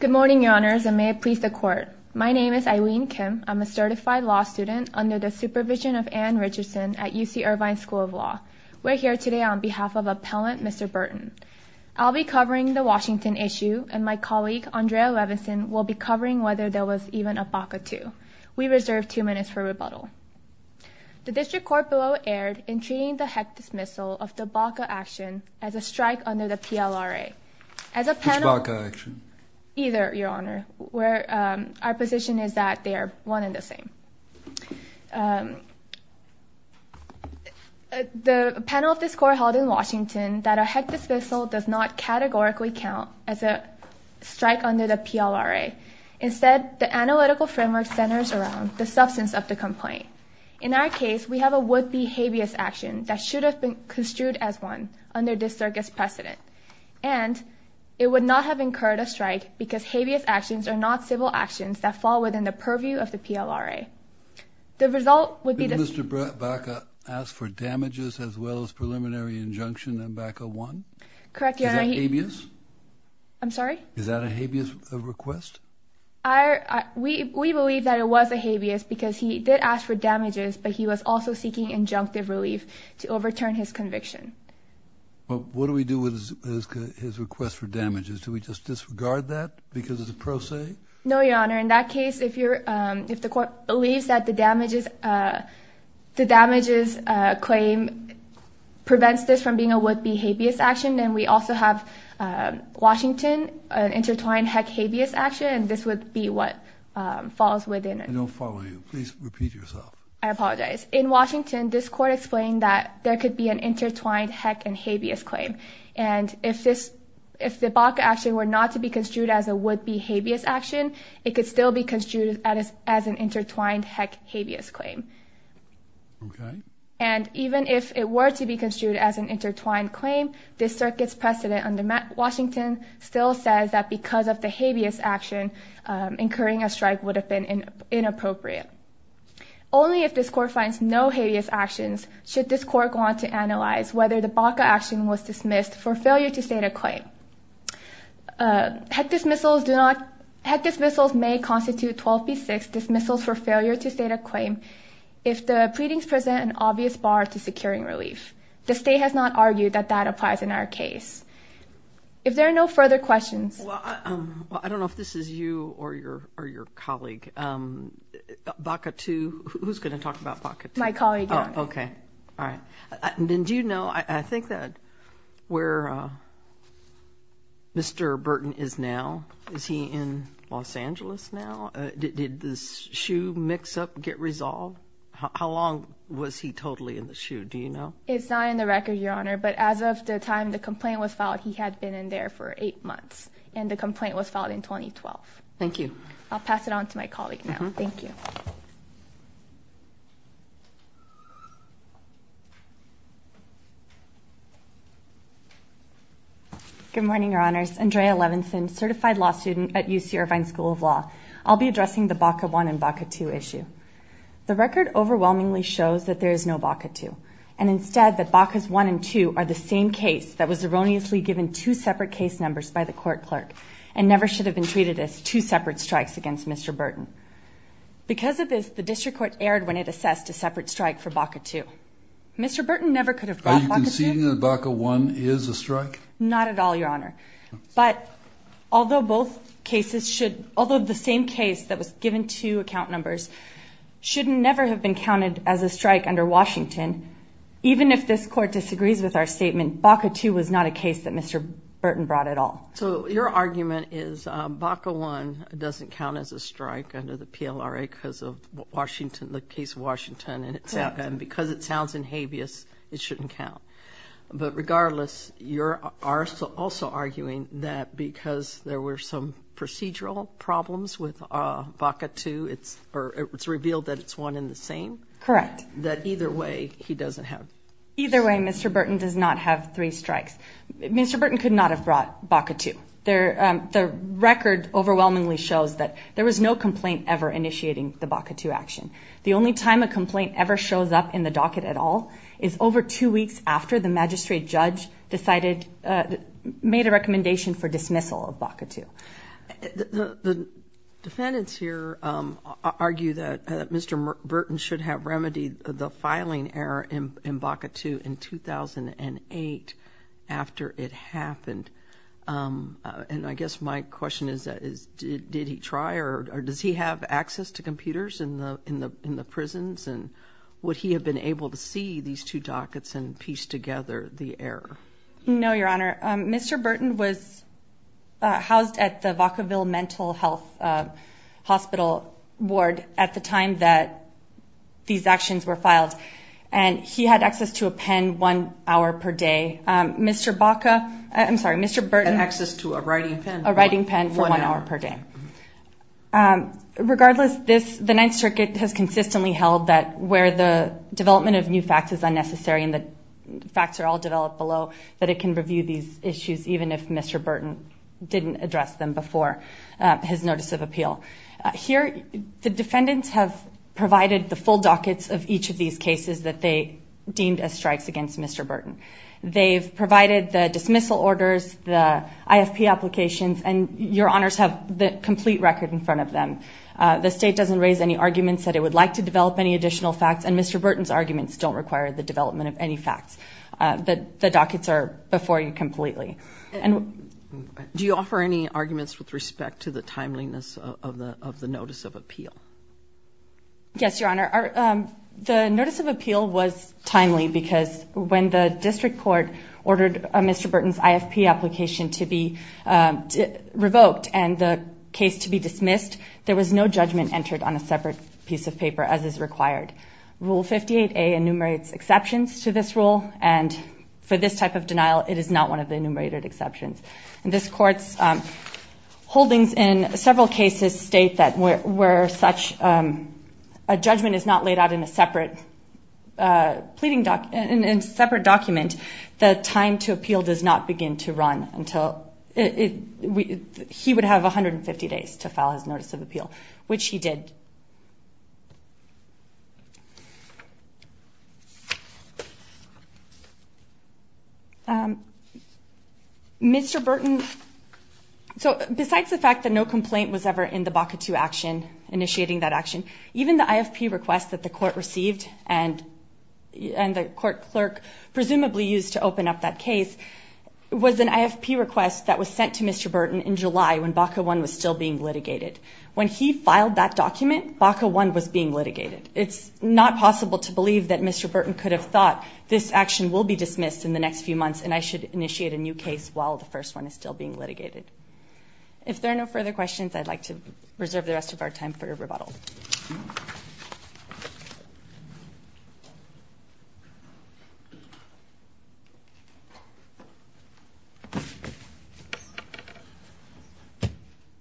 Good morning, Your Honors, and may it please the Court. My name is Eileen Kim. I'm a certified law student under the supervision of Anne Richardson at UC Irvine School of Law. We're here today on behalf of Appellant Mr. Burton. I'll be covering the Washington issue, and my colleague Andrea Levinson will be covering whether there was even a BACA 2. We reserve two minutes for rebuttal. The District Court below erred in treating the heck dismissal of the BACA action as a BACA action. Neither, Your Honor. Our position is that they are one and the same. The panel of this Court held in Washington that a heck dismissal does not categorically count as a strike under the PLRA. Instead, the analytical framework centers around the substance of the complaint. In our case, we have a would-be habeas action that should have been construed as one under this Circuit's precedent, and it would not have incurred a strike because habeas actions are not civil actions that fall within the purview of the PLRA. The result would be that Mr. BACA asked for damages as well as preliminary injunction in BACA 1? Correct, Your Honor. Is that habeas? I'm sorry? Is that a habeas request? We believe that it was a habeas because he did ask for damages, but he was also seeking injunctive relief to overturn his conviction. Well, what do we do with his request for damages? Do we just disregard that because it's a pro se? No, Your Honor. In that case, if the Court believes that the damages claim prevents this from being a would-be habeas action, then we also have Washington, an intertwined heck habeas action, and this would be what falls within it. I don't follow you. Please repeat yourself. I apologize. In Washington, this Court explained that there could be an intertwined heck and habeas claim, and if the BACA action were not to be construed as a would-be habeas action, it could still be construed as an intertwined heck habeas claim. And even if it were to be construed as an intertwined claim, this Circuit's precedent under Washington still says that because of the habeas action, incurring a strike would have been inappropriate. Only if this Court finds no habeas actions should this Court go on to analyze whether the BACA action was dismissed for failure to state a claim. Heck dismissals may constitute 12 v. 6 dismissals for failure to state a claim if the pleadings present an obvious bar to securing relief. The State has not argued that that applies in our case. If there are no further questions... Well, I don't know if this is you or your colleague. BACA 2. Who's going to talk about BACA 2? My colleague. Oh, okay. All right. Then do you know, I think, where Mr. Burton is now? Is he in Los Angeles now? Did the shoe mix-up get resolved? How long was he totally in the shoe? Do you know? It's not in the record, Your Honor, but as of the time the complaint was filed, he had been in there for eight months. And the complaint was filed in 2012. Thank you. I'll pass it on to my colleague now. Thank you. Good morning, Your Honors. Andrea Levinson, certified law student at UC Irvine School of Law. I'll be addressing the BACA 1 and BACA 2 issue. The record overwhelmingly shows that there is no BACA 2, and instead that BACAs 1 and 2 are the same case that was erroneously given two separate case numbers by the court clerk and never should have been treated as two separate strikes against Mr. Burton. Because of this, the district court erred when it assessed a separate strike for BACA 2. Mr. Burton never could have brought BACA 2. Are you conceding that BACA 1 is a strike? Not at all, Your Honor. But although both cases should, although the same case that was given two account numbers should never have been counted as a strike under Washington, even if this court disagrees with our statement, BACA 2 was not a case that Mr. Burton brought at all. So your argument is BACA 1 doesn't count as a strike under the PLRA because of Washington, the case of Washington, and because it sounds in habeas, it shouldn't count. But regardless, you're also arguing that because there were some procedural problems with BACA 2, it's revealed that it's one and the same? Correct. That either way, he doesn't have? Either way, Mr. Burton does not have three strikes. Mr. Burton could not have brought BACA 2. The record overwhelmingly shows that there was no complaint ever initiating the BACA 2 action. The only time a complaint ever shows up in the docket at all is over two weeks after the magistrate judge made a recommendation for dismissal of BACA 2. The defendants here argue that Mr. Burton should have remedied the filing error in BACA 2 in 2008 after it happened. And I guess my question is, did he try or does he have access to computers in the prisons and would he have been able to see these two dockets and piece together the error? No, Your Honor. Mr. Burton was housed at the Vacaville Mental Health Hospital ward at the time that these actions were filed. And he had access to a pen one hour per day. Mr. Baca, I'm sorry, Mr. Burton had access to a writing pen for one hour per day. Regardless, the Ninth Circuit has consistently held that where the development of new facts is unnecessary and the facts are all developed below, that it can review these issues even if Mr. Burton didn't address them before his notice of appeal. Here, the defendants have provided the full dockets of each of these cases that they deemed as strikes against Mr. Burton. They've provided the dismissal orders, the IFP applications, and Your Honors have the complete record in front of them. The state doesn't raise any arguments that it would like to develop any facts. The dockets are before you completely. Do you offer any arguments with respect to the timeliness of the notice of appeal? Yes, Your Honor. The notice of appeal was timely because when the district court ordered Mr. Burton's IFP application to be revoked and the case to be dismissed, there was no judgment entered on a separate piece of paper as is common to this rule. For this type of denial, it is not one of the enumerated exceptions. This Court's holdings in several cases state that where such a judgment is not laid out in a separate document, the time to appeal does not begin to run. He would have 150 days to file his notice of appeal, which he did. Mr. Burton, besides the fact that no complaint was ever in the BACA II action, initiating that action, even the IFP request that the court received and the court clerk presumably used to open up that case was an IFP request that was sent to Mr. Burton in July when BACA I was still being litigated. When he filed that document, BACA I was being litigated. It's not possible to believe that Mr. Burton could have thought, this action will be dismissed in the next few months and I should initiate a new case while the first one is still being litigated. If there are no further questions, I'd like to reserve the rest of our time for rebuttal.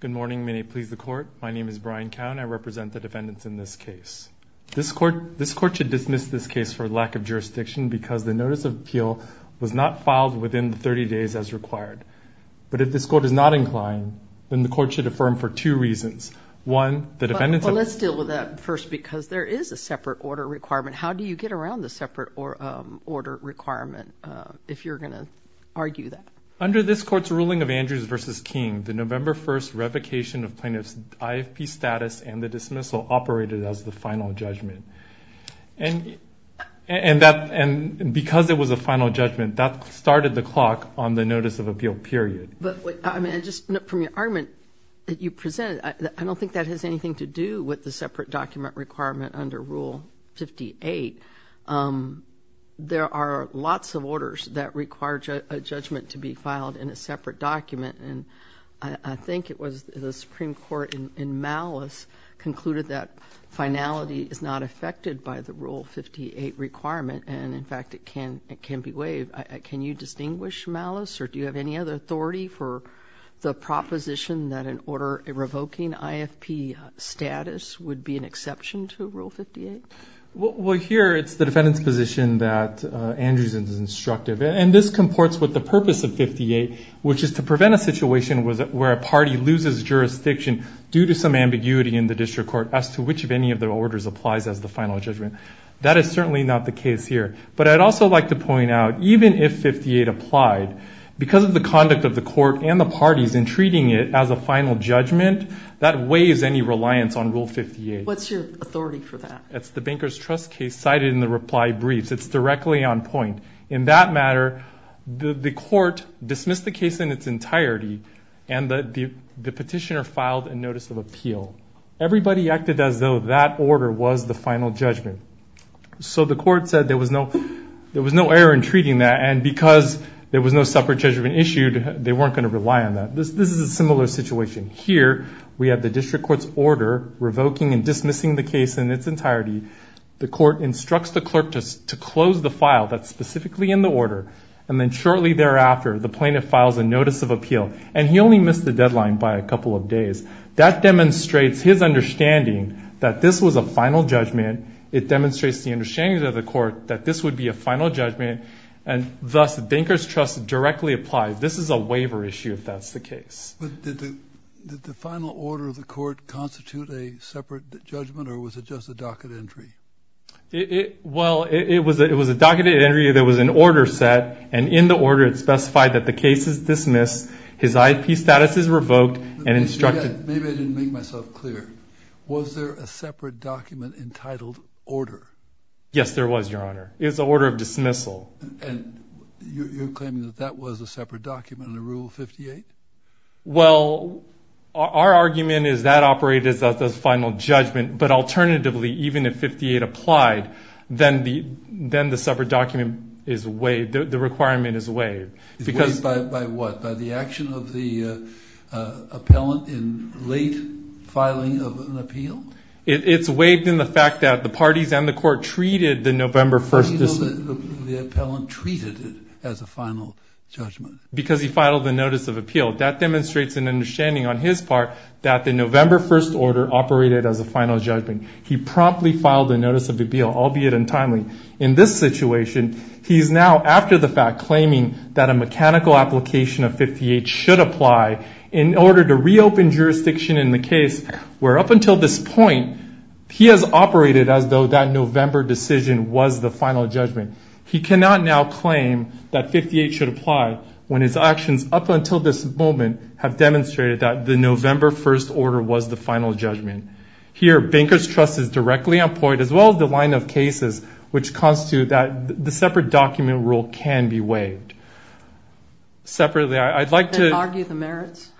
Good morning. May it please the Court. My name is Brian Cowne. I represent the defendants in this case. This Court should dismiss this case for lack of jurisdiction because the notice of appeal was not filed within the 30 days as required. But if this Court is not inclined, then the Court should affirm for two reasons. One, the defendants... Let's deal with that first because there is a separate order requirement. How do you get around the separate order requirement if you're going to argue that? Under this Court's ruling of Andrews v. King, the November 1st revocation of plaintiff's IFP status and the dismissal operated as the final judgment. And because it was a final judgment, that started the clock on the notice of appeal period. But from your argument that you presented, I don't think that has anything to do with the separate document requirement under Rule 58. There are lots of orders that require a judgment to be filed in a separate document. And I think it was the Supreme Court in malice concluded that finality is not affected by the Rule 58 requirement. And in fact, it can be waived. Can you distinguish malice or do you have any other authority for the proposition that an order revoking IFP status would be an exception to Rule 58? Well, here it's the defendant's position that Andrews is instructive. And this comports with the purpose of 58, which is to prevent a situation where a party loses jurisdiction due to some ambiguity in the district court as to which of any of the orders applies as the final judgment. That is certainly not the case here. But I'd also like to point out, even if 58 applied, because of the conduct of the court and the parties in treating it as a final judgment, that waives any reliance on Rule 58. What's your authority for that? That's the Banker's Trust case cited in the reply briefs. It's directly on point. In that matter, the court dismissed the case in its entirety and the petitioner filed a notice of appeal. Everybody acted as though that order was the final judgment. So the court said there was no error in treating that. And because there was no separate judgment issued, they weren't going to rely on that. This is a similar situation. Here, we have the district court's order revoking and dismissing the case in its entirety. The court instructs the clerk to close the file that's specifically in the order. And then shortly thereafter, the plaintiff files a notice of appeal. And he only missed the deadline by a couple of days. That demonstrates his understanding that this was a final judgment. It demonstrates the understanding of the court that this would be a final judgment. And thus, the Banker's Trust directly applies. This is a waiver issue, if that's the case. But did the final order of the court constitute a separate judgment, or was it just a docket entry? Well, it was a docketed entry. There was an order set. And in the order, it specified that the case is dismissed, his IP status is revoked, and instructed... Maybe I didn't make myself clear. Was there a separate document entitled order? Yes, there was, Your Honor. It was an order of dismissal. And you're claiming that that was a separate document, the Rule 58? Well, our argument is that operated as a final judgment. But alternatively, even if 58 applied, then the separate document is waived. The requirement is waived. It's waived by what? By the action of the appellant in late filing of an appeal? It's waived in the fact that the parties and the court treated the November 1st... The appellant treated it as a final judgment. Because he filed the notice of appeal. That demonstrates an understanding on his part that the November 1st order operated as a final judgment. He promptly filed a notice of appeal, albeit untimely. In this situation, he's now after the fact claiming that a mechanical application of 58 should apply in order to reopen jurisdiction in the case, where up this point, he has operated as though that November decision was the final judgment. He cannot now claim that 58 should apply when his actions up until this moment have demonstrated that the November 1st order was the final judgment. Here, Bankers Trust is directly employed as well as the line of cases, which constitute that the separate document rule can be waived. Separately, I'd like to... Then argue the merits?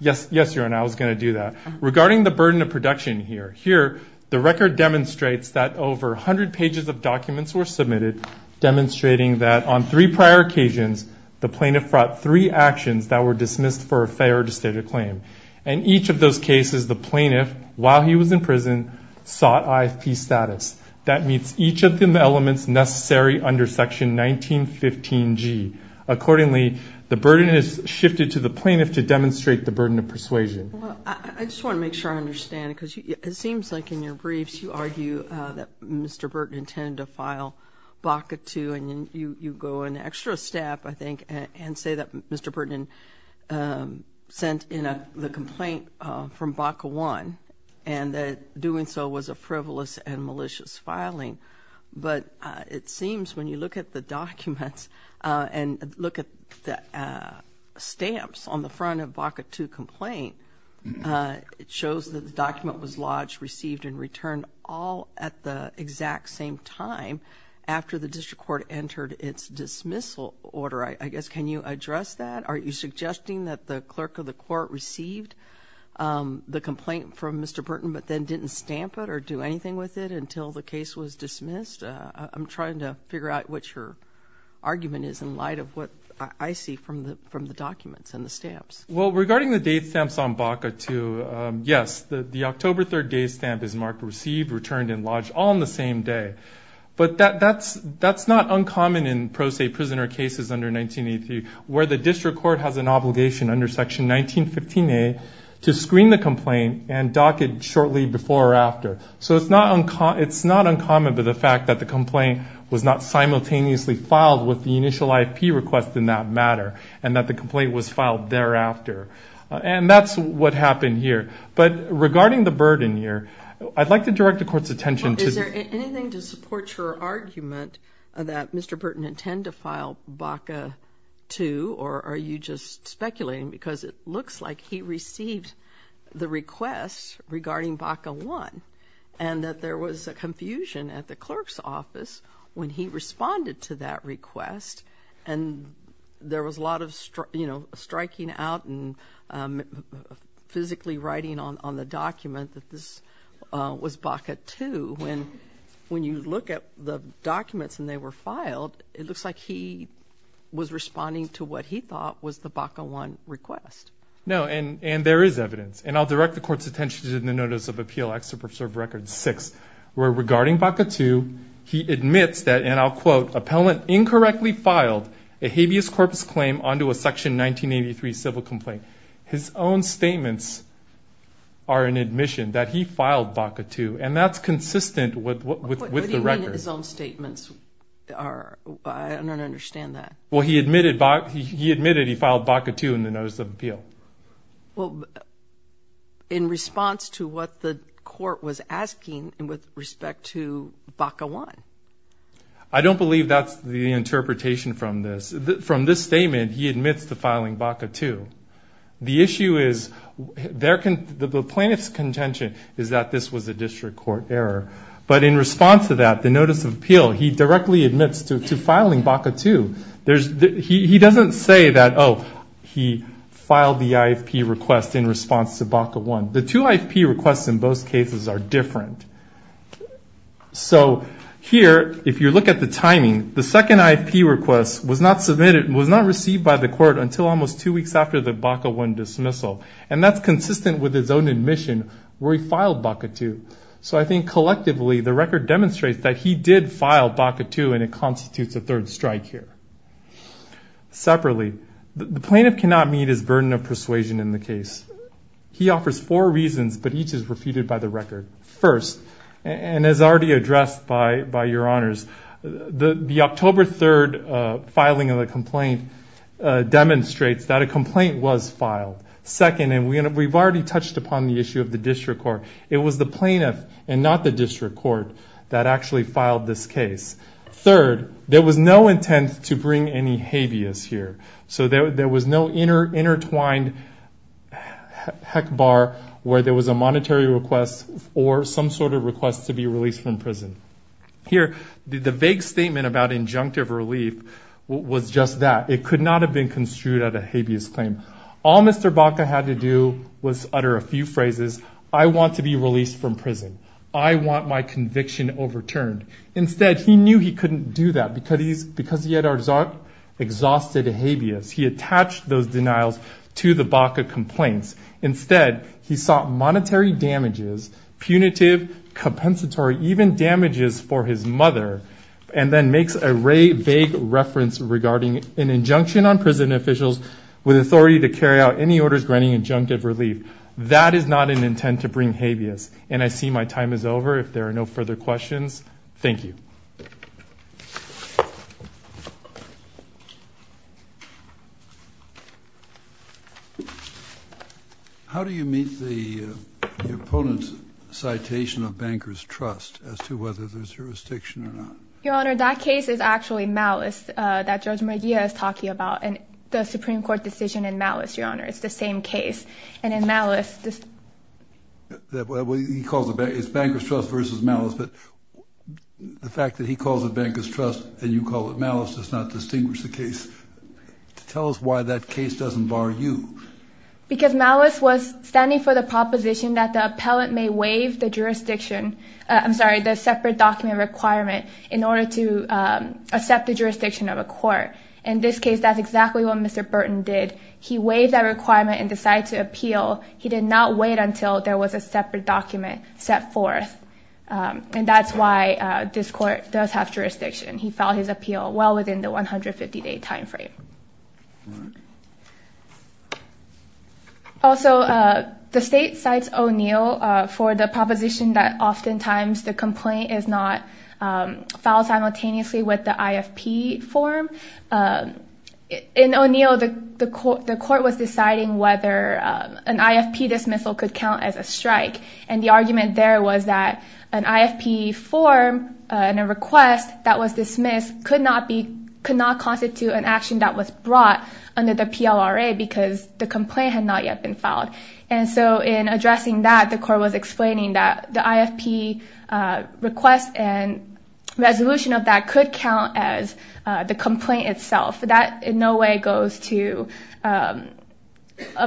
Yes, Your Honor. I was going to do that. Regarding the burden of production here, here, the record demonstrates that over 100 pages of documents were submitted, demonstrating that on three prior occasions, the plaintiff brought three actions that were dismissed for a failure to state a claim. In each of those cases, the plaintiff, while he was in prison, sought IFP status. That meets each of the elements necessary under Section 1915G. Accordingly, the burden is shifted to the plaintiff to demonstrate the burden of persuasion. I just want to make sure I understand, because it seems like in your briefs, you argue that Mr. Burton intended to file BACA 2, and then you go an extra step, I think, and say that Mr. Burton sent in the complaint from BACA 1, and that doing so was a frivolous and malicious filing. But it seems when you look at the documents and look at the stamps on the front of BACA 2 complaint, it shows that the document was lodged, received, and returned all at the exact same time after the district court entered its dismissal order. I guess, can you address that? Are you suggesting that the clerk of the court received the complaint from Mr. Burton, but then didn't stamp it or do anything with it until the case was dismissed? I'm trying to figure out what your argument is in light of what I see from the documents and the stamps. Well, regarding the date stamps on BACA 2, yes, the October 3rd date stamp is marked received, returned, and lodged all on the same day. But that's not uncommon in pro se prisoner cases under 1983, where the district court has an obligation under Section 1915A to screen the complaint and dock it shortly before or after. So it's not uncommon for the fact that the complaint was not simultaneously filed with the initial IP request in that matter, and that the complaint was filed thereafter. And that's what happened here. But regarding the burden here, I'd like to direct the court's attention to... Well, is there anything to support your argument that Mr. Burton intend to file BACA 2, or are you just speculating? Because it looks like he received the request regarding BACA 1, and that there was a confusion at the clerk's office when he responded to that request, and there was a lot of, you know, striking out and physically writing on the document that this was BACA 2. When you look at the documents and they were filed, it looks like he was responding to what he thought was the BACA 1 request. No, and there is evidence. And I'll direct the court's attention to the Notice of Appeal Excerpt of Served Records 6, where regarding BACA 2, he admits that, and I'll quote, "...appellant incorrectly filed a habeas corpus claim onto a Section 1983 civil complaint." His own statements are an admission that he filed BACA 2, and that's consistent with the record. What do you mean his own statements are, I don't understand that. Well he admitted he filed BACA 2 in the Notice of Appeal. In response to what the court was asking with respect to BACA 1. I don't believe that's the interpretation from this. From this statement, he admits to filing BACA 2. The issue is, the plaintiff's contention is that this was a district court error. But in response to that, the Notice of Appeal, he directly admits to filing BACA 2. He doesn't say that, oh, he filed the IFP request in response to BACA 1. The two IFP requests in both cases are different. So here, if you look at the timing, the second IFP request was not submitted, was not received by the court until almost two weeks after the BACA 1 dismissal. And that's consistent with his own admission, where he filed BACA 2. So I think collectively, the record demonstrates that he did file BACA 2, and it constitutes a third strike here. Separately, the plaintiff cannot meet his burden of persuasion in the case. He offers four reasons, but each is refuted by the record. First, and as already addressed by your honors, the October 3rd filing of the complaint demonstrates that a complaint was filed. Second, and we've already touched upon the issue of the district court, it was the plaintiff and not the district court that actually filed this case. Third, there was no intent to bring any habeas here. So there was no intertwined heck bar where there was a monetary request or some sort of request to be released from prison. Here, the vague statement about injunctive relief was just that. It could not have been uttered a few phrases, I want to be released from prison. I want my conviction overturned. Instead, he knew he couldn't do that because he had exhausted habeas. He attached those denials to the BACA complaints. Instead, he sought monetary damages, punitive, compensatory, even damages for his mother, and then makes a vague reference regarding an injunction on prison officials with authority to carry out any orders granting injunctive relief. That is not an intent to bring habeas, and I see my time is over. If there are no further questions, thank you. How do you meet the opponent's citation of bankers' trust as to whether there's jurisdiction or not? Your Honor, that case is actually malice that Judge Maria is talking about, the Supreme Court decision in malice, Your Honor. It's the same case. And in malice... It's bankers' trust versus malice, but the fact that he calls it bankers' trust and you call it malice does not distinguish the case. Tell us why that case doesn't bar you. Because malice was standing for the proposition that the appellant may waive the jurisdiction, I'm sorry, the separate document requirement in order to accept the jurisdiction of a court. In this case, that's exactly what Mr. Burton did. He waived that requirement and decided to appeal. He did not wait until there was a separate document set forth. And that's why this court does have jurisdiction. He filed his appeal well within the 150-day timeframe. Also, the state cites O'Neill for the proposition that oftentimes the complaint is not filed simultaneously with the IFP form. In O'Neill, the court was deciding whether an IFP dismissal could count as a strike. And the argument there was that an IFP form and a request that was dismissed could not constitute an action that was brought under the PLRA because the complaint had not yet been filed. And so in addressing that, the court was explaining that the IFP request and resolution of that could count as the complaint itself. That in no way goes to a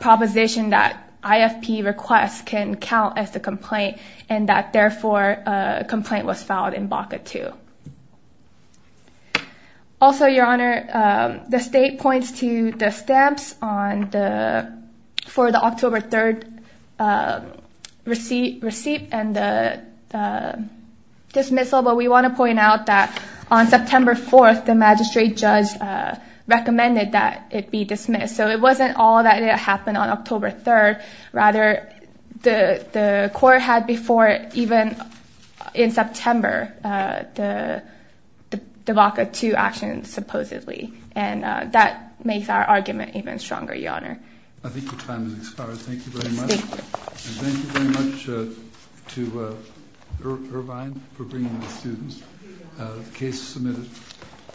proposition that IFP requests can count as the complaint and that therefore a complaint was filed in BACA 2. Also, Your Honor, the state points to the stamps for the October 3rd receipt and the dismissal. But we want to point out that on September 4th, the magistrate judge recommended that it be dismissed. So it wasn't all that it happened on October 3rd. Rather, the court had before even in September the BACA 2 action supposedly. And that makes our argument even stronger, Your Honor.